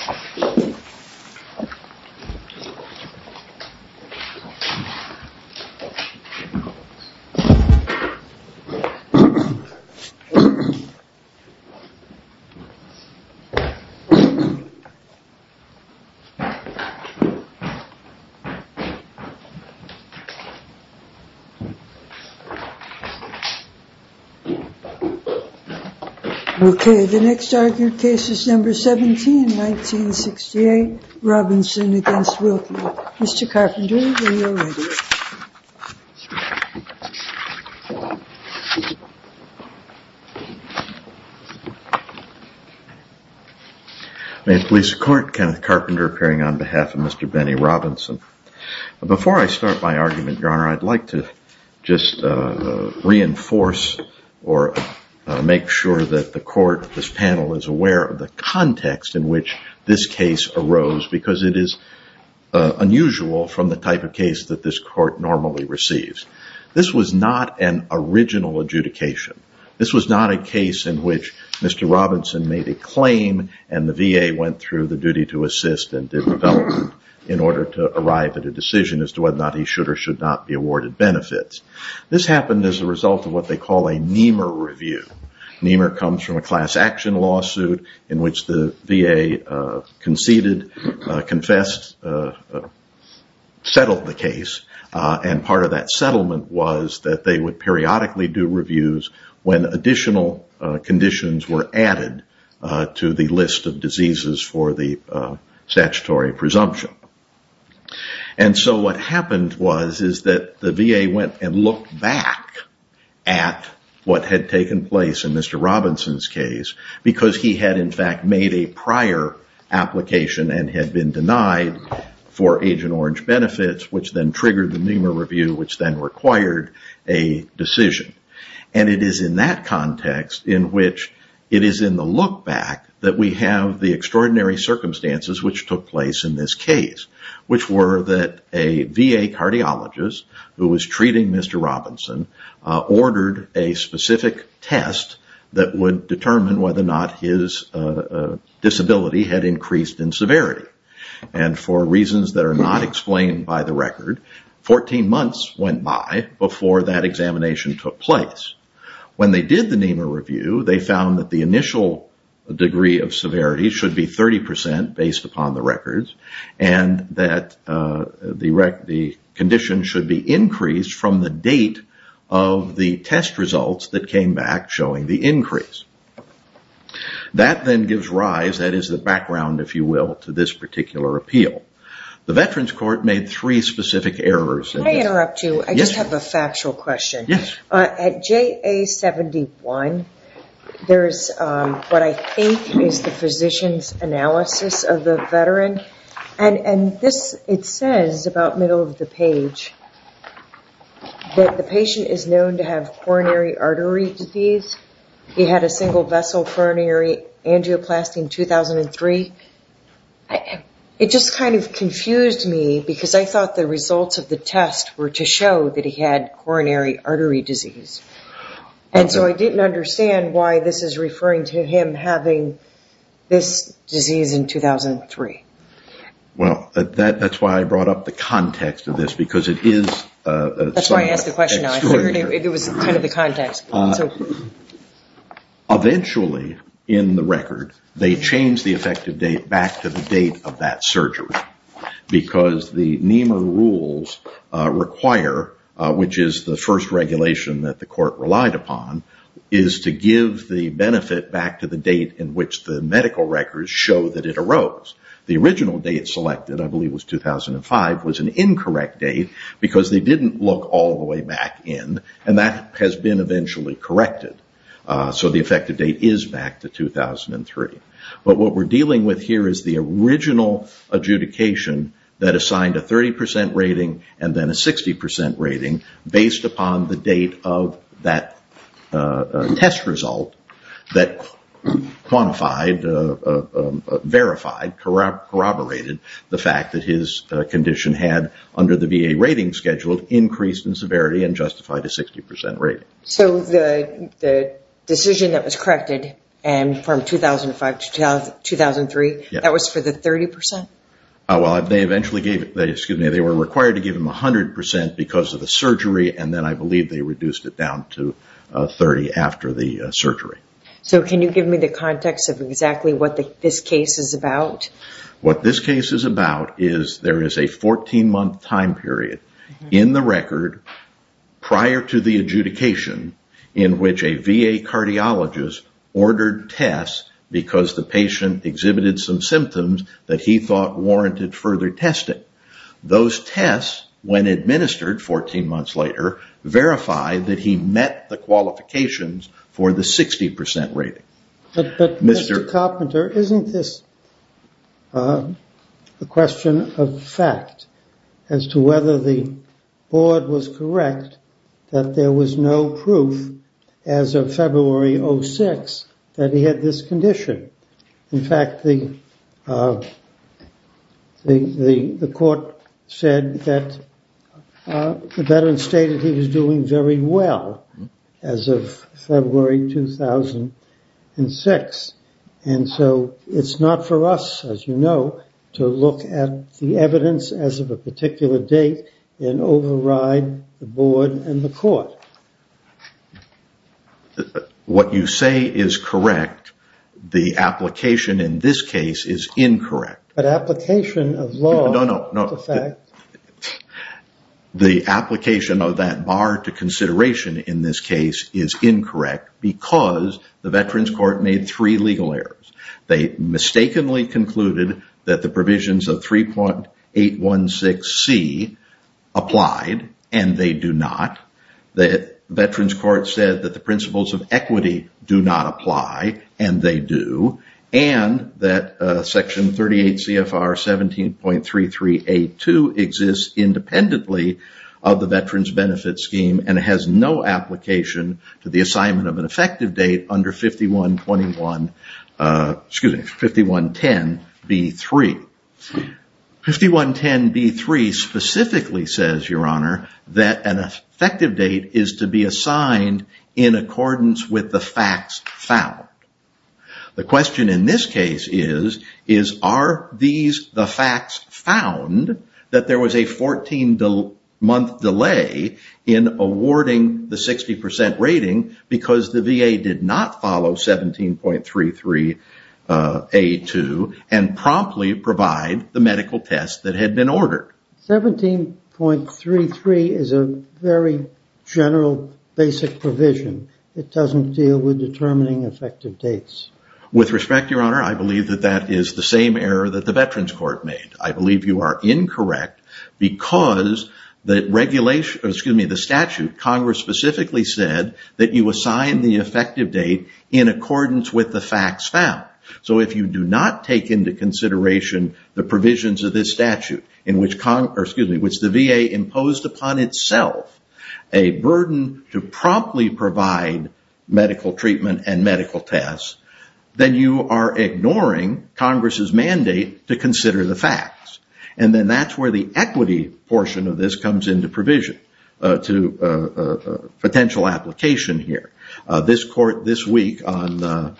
reaction. May it please the court, Kenneth Carpenter appearing on behalf of Mr. Benny Robinson. Before I start my argument, your honor, I'd like to just reinforce or make sure that the this case arose because it is unusual from the type of case that this court normally receives. This was not an original adjudication. This was not a case in which Mr. Robinson made a claim and the VA went through the duty to assist and did development in order to arrive at a decision as to whether or not he should or should not be awarded benefits. This happened as a result of what they call a Nehmer review. Nehmer comes from a class action lawsuit in which the VA conceded, confessed, settled the case and part of that settlement was that they would periodically do reviews when additional conditions were added to the list of diseases for the statutory presumption. What happened was that the VA went and looked back at what had taken place in Mr. Robinson's case because he had in fact made a prior application and had been denied for Agent Orange benefits which then triggered the Nehmer review which then required a decision. It is in that context in which it is in the look back that we have the extraordinary circumstances which took place in this case which were that a VA cardiologist who was treating Mr. Robinson ordered a specific test that would determine whether or not his disability had increased in severity and for reasons that are not explained by the record, 14 months went by before that examination took place. When they did the Nehmer review, they found that the initial degree of severity should be 30% based upon the records and that the condition should be increased from the date of the test results that came back showing the increase. That then gives rise, that is the background if you will, to this particular appeal. The Veterans Court made three specific errors. Can I interrupt you? Yes. I just have a factual question. Yes. At JA71, there is what I think is the physician's analysis of the veteran and it says about middle of the page that the patient is known to have coronary artery disease. He had a single vessel coronary angioplasty in 2003. It just kind of confused me because I thought the results of the test were to show that he had coronary artery disease. And so I didn't understand why this is referring to him having this disease in 2003. Well that's why I brought up the context of this because it is... That's why I asked the question. It was kind of the context. Eventually in the record, they changed the effective date back to the date of that surgery because the NEMR rules require, which is the first regulation that the court relied upon, is to give the benefit back to the date in which the medical records show that it arose. The original date selected, I believe it was 2005, was an incorrect date because they didn't look all the way back in and that has been eventually corrected. So the effective date is back to 2003. But what we're dealing with here is the original adjudication that assigned a 30% rating and then a 60% rating based upon the date of that test result that quantified, verified, corroborated the fact that his condition had, under the VA rating schedule, increased in severity and justified a 60% rating. So the decision that was corrected from 2005 to 2003, that was for the 30%? Well, they were required to give him 100% because of the surgery and then I believe they reduced it down to 30% after the surgery. So can you give me the context of exactly what this case is about? What this case is about is there is a 14-month time period in the record prior to the adjudication in which a VA cardiologist ordered tests because the patient exhibited some symptoms that he thought warranted further testing. Those tests, when administered 14 months later, verified that he met the qualifications for the 60% rating. But Mr. Carpenter, isn't this a question of fact as to whether the board was correct that there was no proof as of February 06 that he had this condition? In fact, the court said that the veteran stated he was doing very well as of February 2006. And so it's not for us, as you know, to look at the evidence as of a particular date and override the board and the court. What you say is correct, the application in this case is incorrect. But application of law is a fact. The application of that bar to consideration in this case is incorrect because the Veterans Court made three legal errors. They mistakenly concluded that the provisions of 3.816C applied and they do not. The Veterans Court said that the principles of equity do not apply and they do. And that Section 38 CFR 17.33A2 exists independently of the Veterans Benefit Scheme and it has no application to the assignment of an effective date under 5110B3. 5110B3 specifically says, Your Honor, that an effective date is to be assigned in accordance with the facts found. The question in this case is, are these the facts found that there was a 14-month delay in awarding the 60% rating because the VA did not follow 17.33A2 and promptly provide the medical test that had been ordered? 17.33 is a very general, basic provision. It doesn't deal with determining effective dates. With respect, Your Honor, I believe that that is the same error that the Veterans Court made. I believe you are incorrect because the statute, Congress specifically said that you assign the effective date in accordance with the facts found. So if you do not take into consideration the provisions of this statute which the VA imposed upon itself a burden to promptly provide medical treatment and medical tests, then you are wrong. And then that is where the equity portion of this comes into provision to potential application here. This court this week on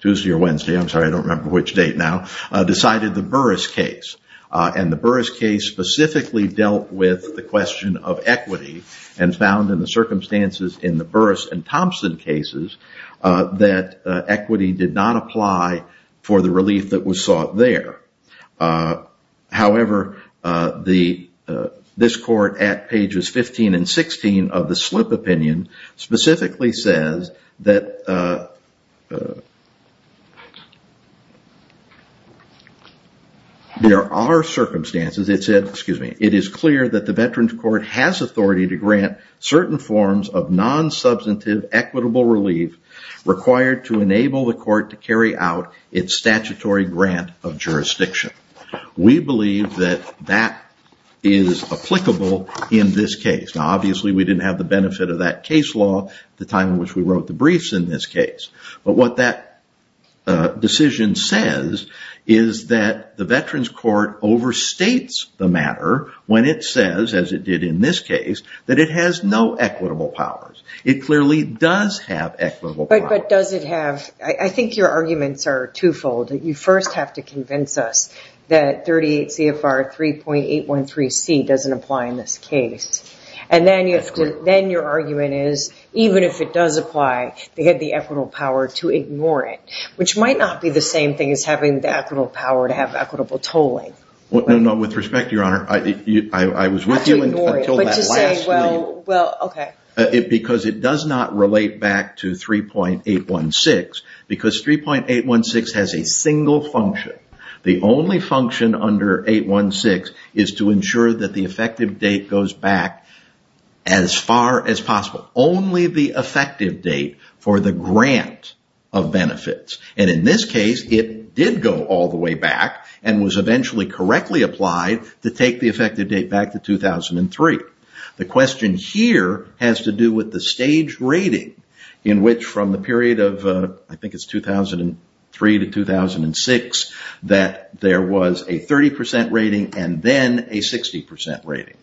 Tuesday or Wednesday, I'm sorry I don't remember which date now, decided the Burris case. And the Burris case specifically dealt with the question of equity and found in the circumstances in the Burris and Thompson cases that equity did not apply for the relief that was sought there. However, this court at pages 15 and 16 of the slip opinion specifically says that there are circumstances, it said, excuse me, it is clear that the Veterans Court has authority to grant certain forms of non-substantive equitable relief required to enable the court to carry out its statutory grant of jurisdiction. We believe that that is applicable in this case. Now obviously we didn't have the benefit of that case law at the time in which we wrote the briefs in this case. But what that decision says is that the Veterans Court overstates the matter when it says, as it did in this case, that it has no equitable powers. It clearly does have equitable powers. But does it have, I think your arguments are two-fold. You first have to convince us that 38 CFR 3.813C doesn't apply in this case. And then your argument is, even if it does apply, they had the equitable power to ignore it, which might not be the same thing as having the equitable power to have equitable tolling. No, no, with respect, Your Honor, I was with you until that last meeting because it does not relate back to 3.816 because 3.816 has a single function. The only function under 816 is to ensure that the effective date goes back as far as possible. Only the effective date for the grant of benefits. And in this case, it did go all the way back and was eventually correctly applied to take the effective date back to 2003. The question here has to do with the stage rating in which from the period of, I think it's 2003 to 2006, that there was a 30% rating and then a 60% rating.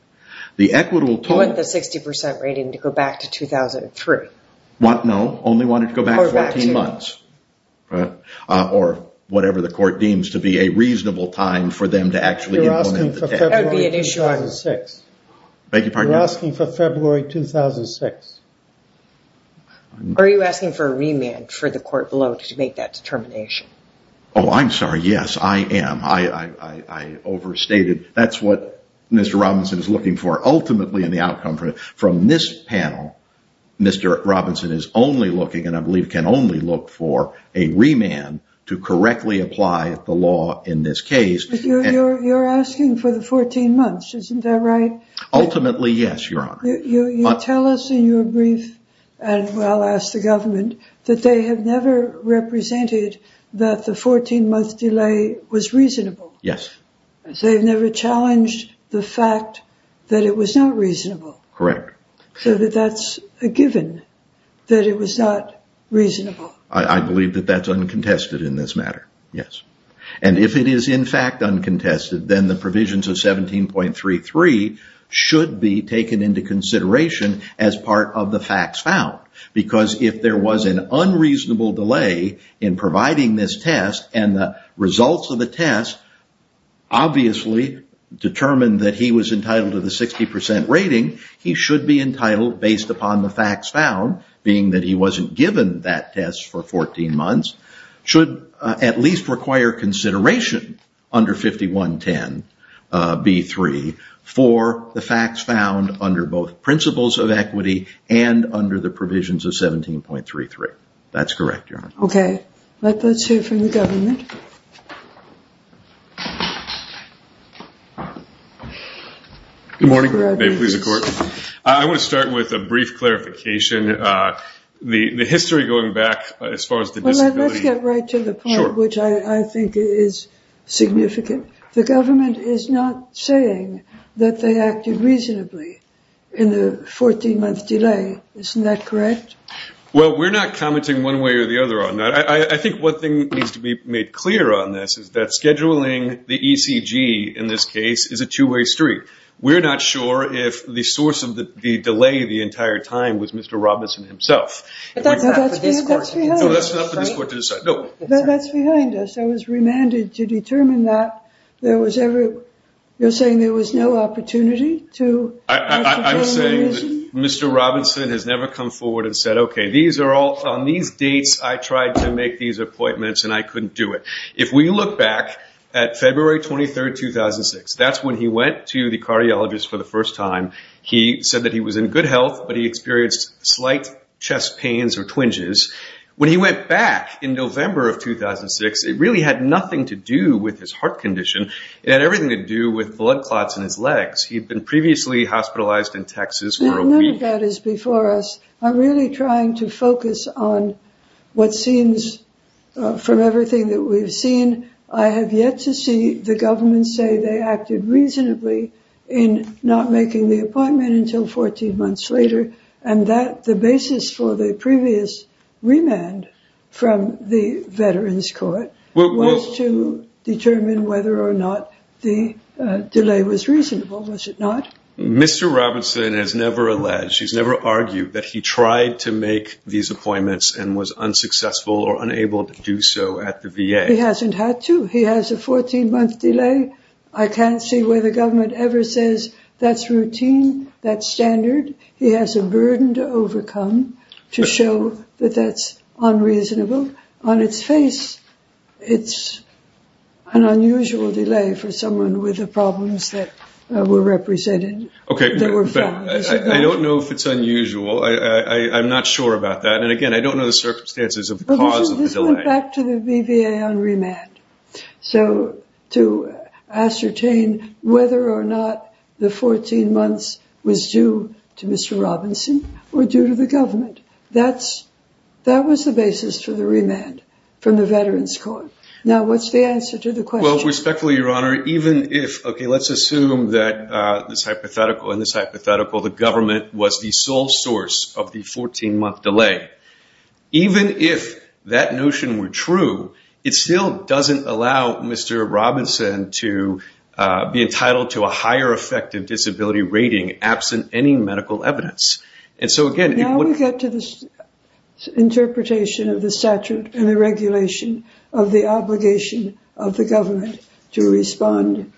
The equitable tolling... You want the 60% rating to go back to 2003? No, only want it to go back 14 months. Or whatever the court deems to be a reasonable time for them to actually implement the test. That would be an issue. You're asking for February 2006. Are you asking for a remand for the court below to make that determination? Oh, I'm sorry. Yes, I am. I overstated. That's what Mr. Robinson is looking for ultimately in the outcome. From this panel, Mr. Robinson is only looking and I believe can only look for a remand to correctly apply the law in this case. You're asking for the 14 months. Isn't that right? Ultimately, yes, Your Honor. You tell us in your brief, and I'll ask the government, that they have never represented that the 14-month delay was reasonable. Yes. They've never challenged the fact that it was not reasonable. So that that's a given that it was not reasonable. I believe that that's uncontested in this matter. Yes. And if it is in fact uncontested, then the provisions of 17.33 should be taken into consideration as part of the facts found. Because if there was an unreasonable delay in providing this test and the results of the test obviously determined that he was entitled to the 60% rating, he should be entitled based upon the facts found, being that he wasn't given that test for 14 months, should at least require consideration under 5110B3 for the facts found under both principles of equity and under the provisions of 17.33. That's correct, Your Honor. Okay. Let's hear from the government. Good morning. I want to start with a brief clarification. The history going back as far as the disability... Let's get right to the point, which I think is significant. The government is not saying that they acted reasonably in the 14-month delay. Isn't that correct? Well, we're not commenting one way or the other on that. I think one thing needs to be made clear on this is that scheduling the ECG in this case is a two-way street. We're not sure if the source of the delay the entire time was Mr. Robinson himself. That's not for this court to decide. That's behind us. I was remanded to determine that there was ever... You're saying there was no opportunity to... I'm saying that Mr. Robinson has never come forward and said, Okay, on these dates, I tried to make these appointments and I couldn't do it. If we look back at February 23, 2006, that's when he went to the cardiologist for the first time. He said that he was in good health, but he experienced slight chest pains or twinges. When he went back in November of 2006, it really had nothing to do with his heart condition. It had everything to do with blood clots in his legs. He'd been previously hospitalized in Texas... None of that is before us. I'm really trying to focus on what seems... From everything that we've seen, I have yet to see the government say they acted reasonably in not making the appointment until 14 months later and that the basis for the previous remand from the Veterans Court was to determine whether or not the delay was reasonable. Was it not? Mr. Robinson has never alleged, and she's never argued, that he tried to make these appointments and was unsuccessful or unable to do so at the VA. He hasn't had to. He has a 14-month delay. I can't see where the government ever says that's routine, that's standard. He has a burden to overcome to show that that's unreasonable. On its face, it's an unusual delay for someone with the problems that were represented. I don't know if it's unusual. I'm not sure about that. Again, I don't know the circumstances of the cause of the delay. This went back to the BVA on remand to ascertain whether or not the 14 months was due to Mr. Robinson or due to the government. That was the basis for the remand from the Veterans Court. Respectfully, Your Honor, even if, okay, let's assume that this hypothetical and this hypothetical, the government was the sole source of the 14-month delay, even if that notion were true, it still doesn't allow Mr. Robinson to be entitled to a higher effective disability rating absent any medical evidence. Now we get to this interpretation of the statute and the regulation of the obligation of the government to respond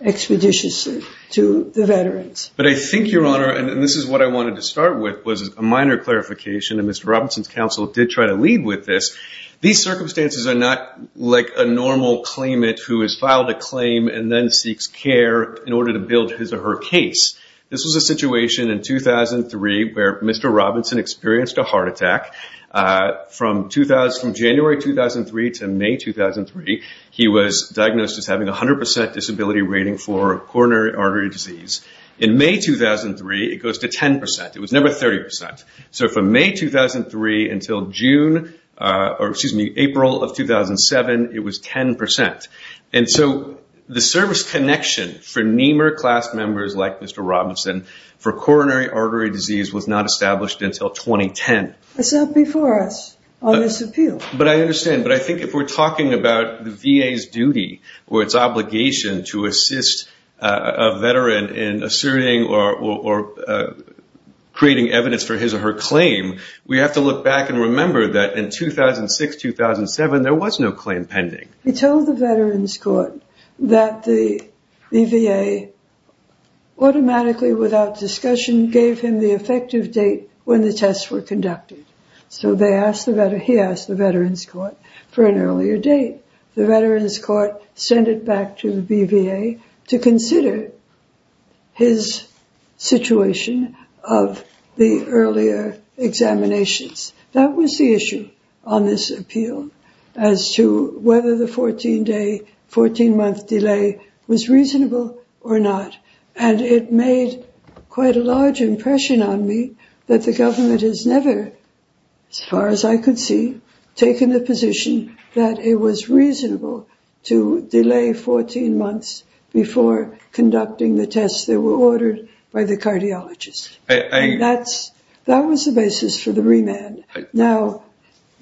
expeditiously to the veterans. But I think, Your Honor, and this is what I wanted to start with, was a minor clarification, and Mr. Robinson's counsel did try to lead with this. These circumstances are not like a normal claimant who has filed a claim and then seeks care in order to build his or her case. This was a situation in 2003 where Mr. Robinson experienced a heart attack. From January 2003 to May 2003, he was diagnosed as having a 100% disability rating for coronary artery disease. In May 2003, it goes to 10%. It was never 30%. So from May 2003 until June, or excuse me, April of 2007, it was 10%. And so the service connection for NEMER class members like Mr. Robinson for coronary artery disease was not established until 2010. It's not before us on this appeal. But I understand. But I think if we're talking about the VA's duty or its obligation to assist a veteran in asserting or creating evidence for his or her claim, we have to look back and remember that in 2006-2007, there was no claim pending. He told the Veterans Court that the VA automatically, without discussion, gave him the effective date when the tests were conducted. So he asked the Veterans Court for an earlier date. The Veterans Court sent it back to the BVA to consider his situation of the earlier examinations. That was the issue on this appeal as to whether the 14-day, 14-month delay was reasonable or not. And it made quite a large impression on me that the government has never, as far as I could see, taken the position that it was reasonable to delay 14 months before conducting the tests that were ordered by the cardiologist. And that was the basis for the remand. Now,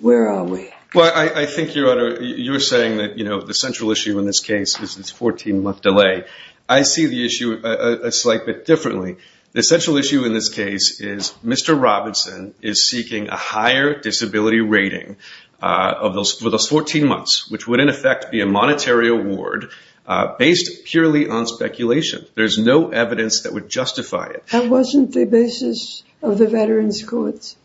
where are we? Well, I think, Your Honor, you're saying that, you know, the central issue in this case is this 14-month delay. I see the issue a slight bit differently. The central issue in this case is Mr. Robinson is seeking a higher disability rating for those 14 months, which would, in effect, be a monetary award based purely on speculation. There's no evidence that would justify it. That wasn't the basis of the Veterans Court's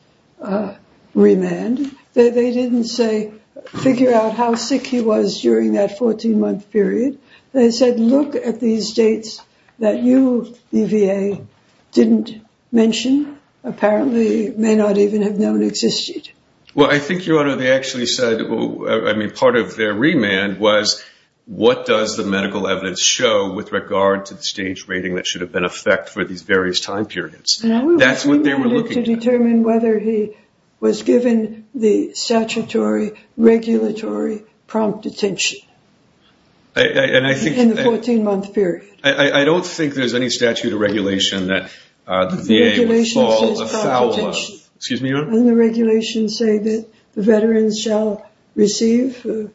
remand. They didn't, say, figure out how sick he was during that 14-month period. They said, look at these dates that you, the VA, didn't mention, apparently may not even have known existed. Well, I think, Your Honor, they actually said, I mean, part of their remand was, what does the medical evidence show with regard to the stage rating that should have been in effect for these various time periods? That's what they were looking at. And we were remanded to determine whether he was given the statutory regulatory prompt detention. In the 14-month period. I don't think there's any statute or regulation that the VA would fall afoul of. Excuse me, Your Honor? Doesn't the regulation say that the veterans shall receive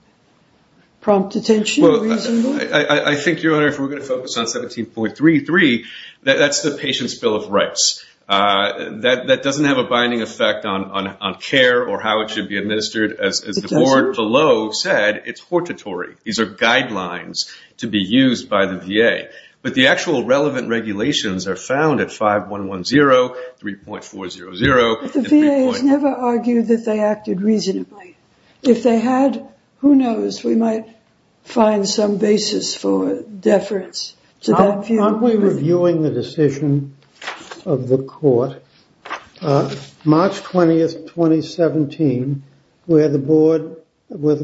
prompt detention reasonably? I think, Your Honor, if we're going to focus on 17.33, that's the Patient's Bill of Rights. That doesn't have a binding effect on care or how it should be administered. As the board below said, it's hortatory. These are guidelines to be used by the VA. But the actual relevant regulations are found at 5110, 3.400. But the VA has never argued that they acted reasonably. If they had, who knows? We might find some basis for deference to that view. Aren't we reviewing the decision of the court? March 20th, 2017, where the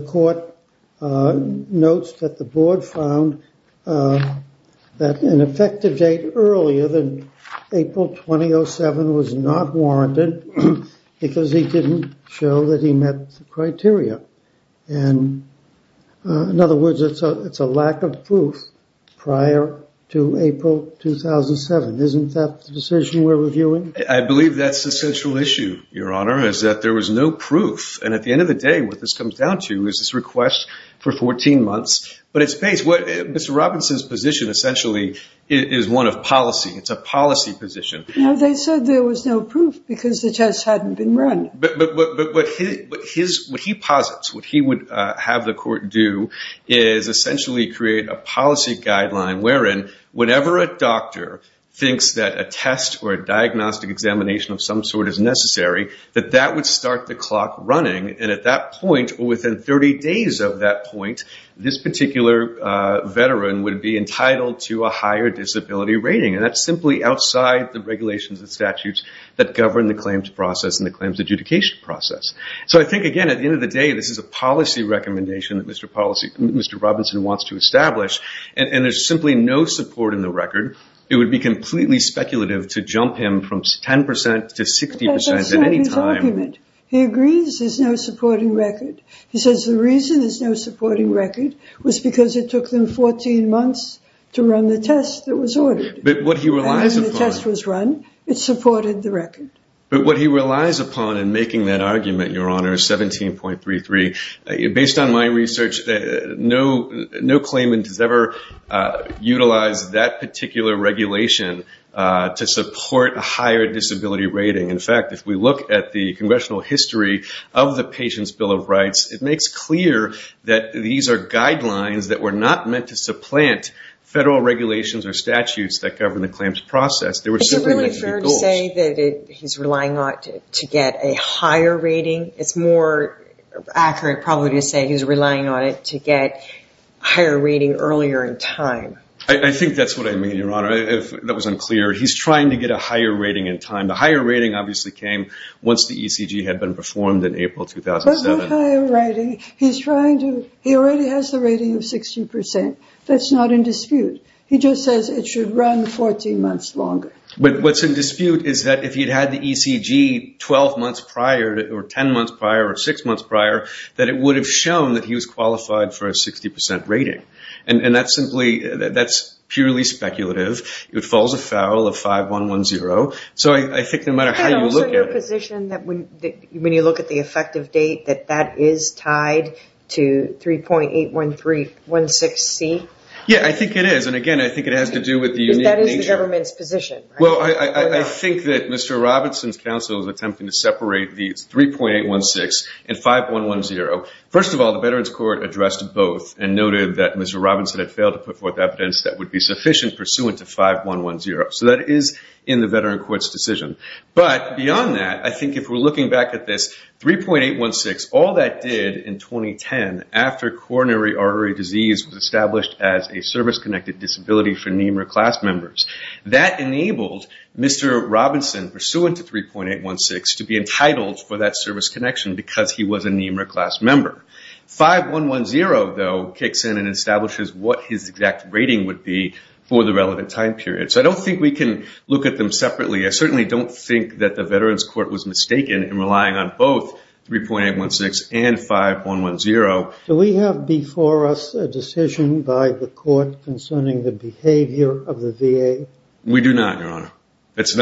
court notes that the board found that an effective date earlier than April 2007 was not warranted because he didn't show that he met the criteria. In other words, it's a lack of proof prior to April 2007. Isn't that the decision we're reviewing? I believe that's the central issue, Your Honor, is that there was no proof. And at the end of the day, what this comes down to is this request for 14 months. But it's based... Mr. Robinson's position essentially is one of policy. It's a policy position. No, they said there was no proof because the test hadn't been run. But what he posits, what he would have the court do is essentially create a policy guideline wherein whenever a doctor thinks that a test or a diagnostic examination of some sort is necessary, that that would start the clock running. And at that point, or within 30 days of that point, this particular veteran would be entitled to a higher disability rating. And that's simply outside the regulations and statutes that govern the claims process and the claims adjudication process. So I think, again, at the end of the day, this is a policy recommendation that Mr. Robinson wants to establish. And there's simply no support in the record. It would be completely speculative to jump him from 10% to 60% at any time. That's not his argument. He agrees there's no supporting record. He says the reason there's no supporting record was because it took them 14 months to run the test that was ordered. But what he relies upon... And when the test was run, it supported the record. But what he relies upon in making that argument, Your Honor, 17.33, based on my research, no claimant has ever utilized that particular regulation to support a higher disability rating. In fact, if we look at the congressional history of the Patients' Bill of Rights, it makes clear that these are guidelines that were not meant to supplant federal regulations or statutes that govern the claims process. They were simply meant to be goals. Is it really fair to say that he's relying on it to get a higher rating? It's more accurate probably to say he's relying on it to get a higher rating earlier in time. I think that's what I mean, Your Honor. If that was unclear, he's trying to get a higher rating in time. The higher rating obviously came once the ECG had been performed in April 2007. But no higher rating. He's trying to... He already has the rating of 60%. That's not in dispute. He just says it should run 14 months longer. But what's in dispute is that if he'd had the ECG 12 months prior or 10 months prior or 6 months prior, that it would have shown that he was qualified for a 60% rating. And that's purely speculative. It falls afoul of 5110. So I think no matter how you look at it... And also your position that when you look at the effective date that that is tied to 3.81316C? Yeah, I think it is. And again, I think it has to do with the unique nature... Because that is the government's position, right? So I think that Mr. Robinson's counsel is attempting to separate the 3.816 and 5110. First of all, the Veterans Court addressed both and noted that Mr. Robinson had failed to put forth evidence that would be sufficient pursuant to 5110. So that is in the Veterans Court's decision. But beyond that, I think if we're looking back at this, 3.816, all that did in 2010, after coronary artery disease was established as a service-connected disability for NEMRA class members, that enabled Mr. Robinson, pursuant to 3.816, to be entitled for that service connection because he was a NEMRA class member. 5110, though, kicks in and establishes what his exact rating would be for the relevant time period. So I don't think we can look at them separately. I certainly don't think that the Veterans Court was mistaken in relying on both 3.816 and 5110. Do we have before us a decision by the court concerning the behavior of the VA? We do not, Your Honor. It's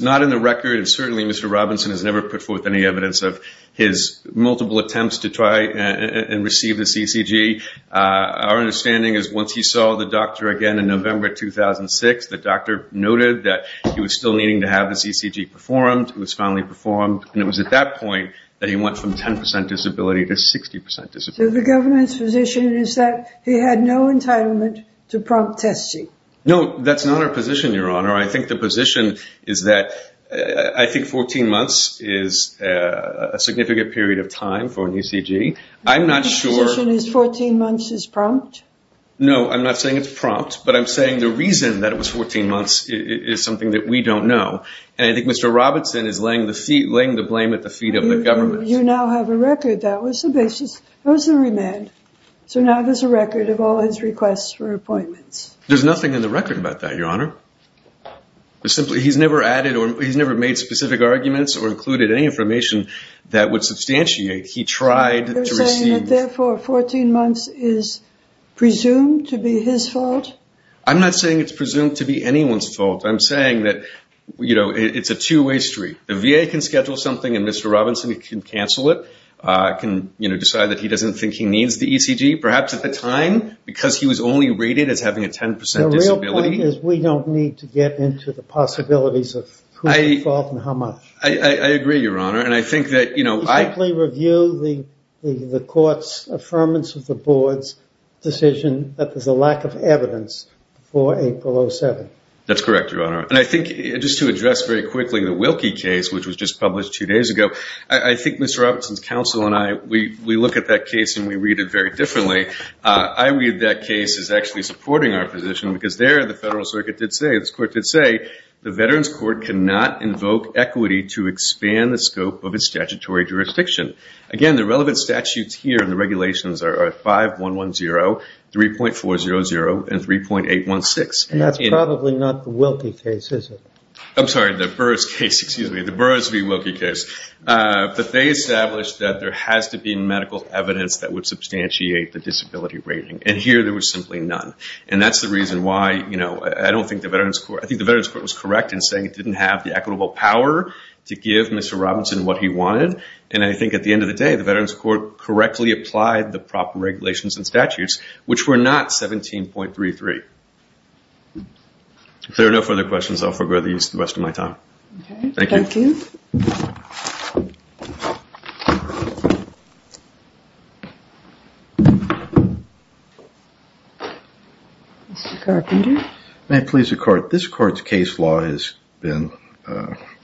not in the record, and certainly Mr. Robinson has never put forth any evidence of his multiple attempts to try and receive the CCG. Our understanding is once he saw the doctor again in November 2006, the doctor noted that he was still needing to have the CCG performed. It was finally performed, and it was at that point that he went from 10% disability to 60% disability. So the government's position is that he had no entitlement to prompt testing. No, that's not our position, Your Honor. I think the position is that I think 14 months is a significant period of time for an ECG. I'm not sure. Your position is 14 months is prompt? No, I'm not saying it's prompt, but I'm saying the reason that it was 14 months is something that we don't know, and I think Mr. Robinson is laying the blame at the feet of the government. You now have a record. That was the basis. That was the remand. So now there's a record of all his requests for appointments. There's nothing in the record about that, Your Honor. He's never made specific arguments or included any information that would substantiate he tried to receive. You're saying that, therefore, 14 months is presumed to be his fault? I'm not saying it's presumed to be anyone's fault. I'm saying that it's a two-way street. The VA can schedule something, and Mr. Robinson can cancel it. It can decide that he doesn't think he needs the ECG, perhaps at the time, because he was only rated as having a 10% disability. The real point is we don't need to get into the possibilities of who's at fault and how much. I agree, Your Honor, and I think that, you know, I— You simply review the court's affirmance of the board's decision that there's a lack of evidence before April 07. That's correct, Your Honor, and I think just to address very quickly the Wilkie case, which was just published two days ago, I think Mr. Robinson's counsel and I, we look at that case and we read it very differently. I read that case as actually supporting our position because there the federal circuit did say, this court did say, the Veterans Court cannot invoke equity to expand the scope of its statutory jurisdiction. Again, the relevant statutes here in the regulations are 5110, 3.400, and 3.816. And that's probably not the Wilkie case, is it? I'm sorry, the Burris case, excuse me, the Burris v. Wilkie case. But they established that there has to be medical evidence that would substantiate the disability rating, and here there was simply none. And that's the reason why, you know, I don't think the Veterans Court— I think the Veterans Court was correct in saying it didn't have the equitable power to give Mr. Robinson what he wanted, and I think at the end of the day, the Veterans Court correctly applied the proper regulations and statutes, which were not 17.33. If there are no further questions, I'll forgo these for the rest of my time. Okay. Thank you. Thank you. Mr. Carpenter. May it please the Court, this Court's case law has been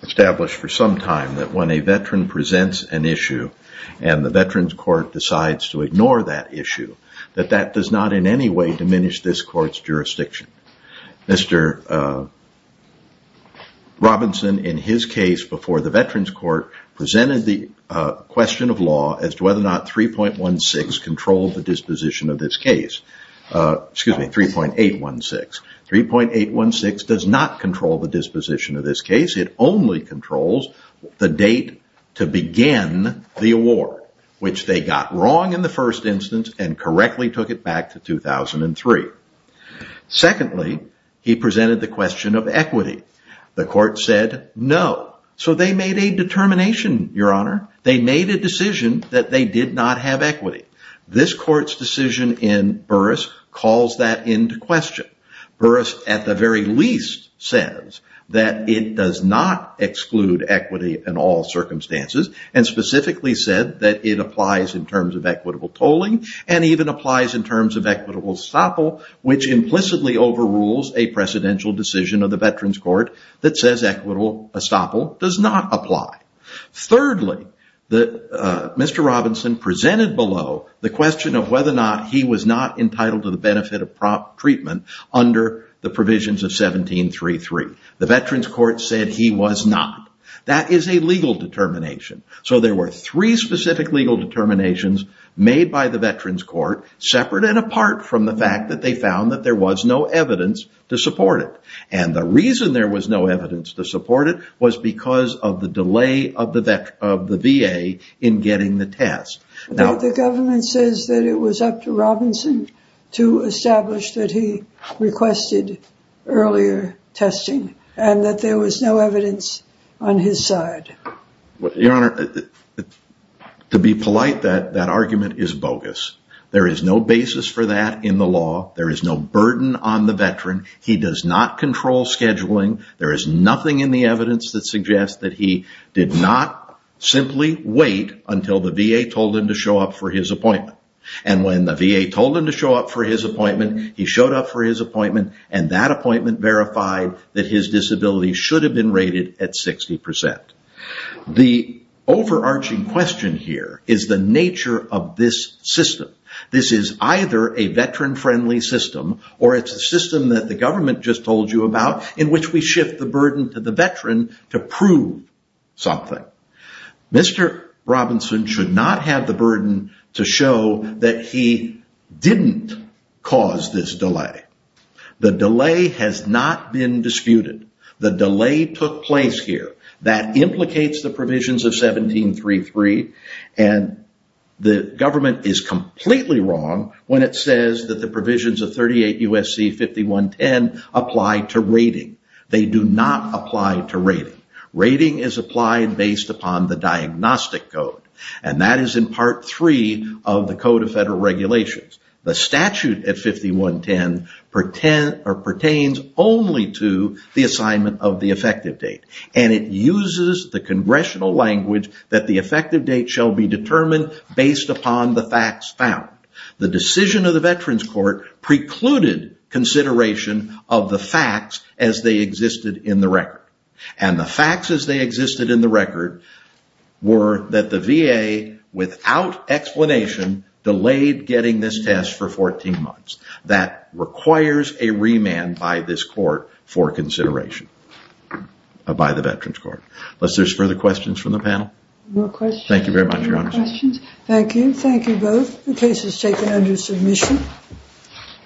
established for some time that when a veteran presents an issue and the Veterans Court decides to ignore that issue, that that does not in any way diminish this Court's jurisdiction. Mr. Robinson, in his case before the Veterans Court, presented the question of law as to whether or not 3.16 controlled the disposition of this case. Excuse me, 3.816. 3.816 does not control the disposition of this case. It only controls the date to begin the award, which they got wrong in the first instance and correctly took it back to 2003. Secondly, he presented the question of equity. The Court said no. So they made a determination, Your Honor. They made a decision that they did not have equity. This Court's decision in Burris calls that into question. Burris, at the very least, says that it does not exclude equity in all circumstances and specifically said that it applies in terms of equitable tolling and even applies in terms of equitable estoppel, which implicitly overrules a precedential decision of the Veterans Court that says equitable estoppel does not apply. Thirdly, Mr. Robinson presented below the question of whether or not he was not entitled to the benefit of treatment under the provisions of 1733. The Veterans Court said he was not. That is a legal determination. So there were three specific legal determinations made by the Veterans Court, separate and apart from the fact that they found that there was no evidence to support it. And the reason there was no evidence to support it was because of the delay of the VA in getting the test. The government says that it was up to Robinson to establish that he requested earlier testing and that there was no evidence on his side. Your Honor, to be polite, that argument is bogus. There is no basis for that in the law. There is no burden on the veteran. He does not control scheduling. There is nothing in the evidence that suggests that he did not simply wait until the VA told him to show up for his appointment. And when the VA told him to show up for his appointment, he showed up for his appointment, and that appointment verified that his disability should have been rated at 60%. The overarching question here is the nature of this system. This is either a veteran-friendly system or it's a system that the government just told you about in which we shift the burden to the veteran to prove something. Mr. Robinson should not have the burden to show that he didn't cause this delay. The delay has not been disputed. The delay took place here. That implicates the provisions of 1733, and the government is completely wrong when it says that the provisions of 38 U.S.C. 5110 apply to rating. They do not apply to rating. Rating is applied based upon the diagnostic code, and that is in Part 3 of the Code of Federal Regulations. The statute at 5110 pertains only to the assignment of the effective date, and it uses the congressional language that the effective date shall be determined based upon the facts found. The decision of the Veterans Court precluded consideration of the facts as they existed in the record, and the facts as they existed in the record were that the VA, without explanation, delayed getting this test for 14 months. That requires a remand by this court for consideration, by the Veterans Court. Unless there's further questions from the panel? No questions. Thank you very much, Your Honor. Thank you. Thank you both. The case is taken under submission.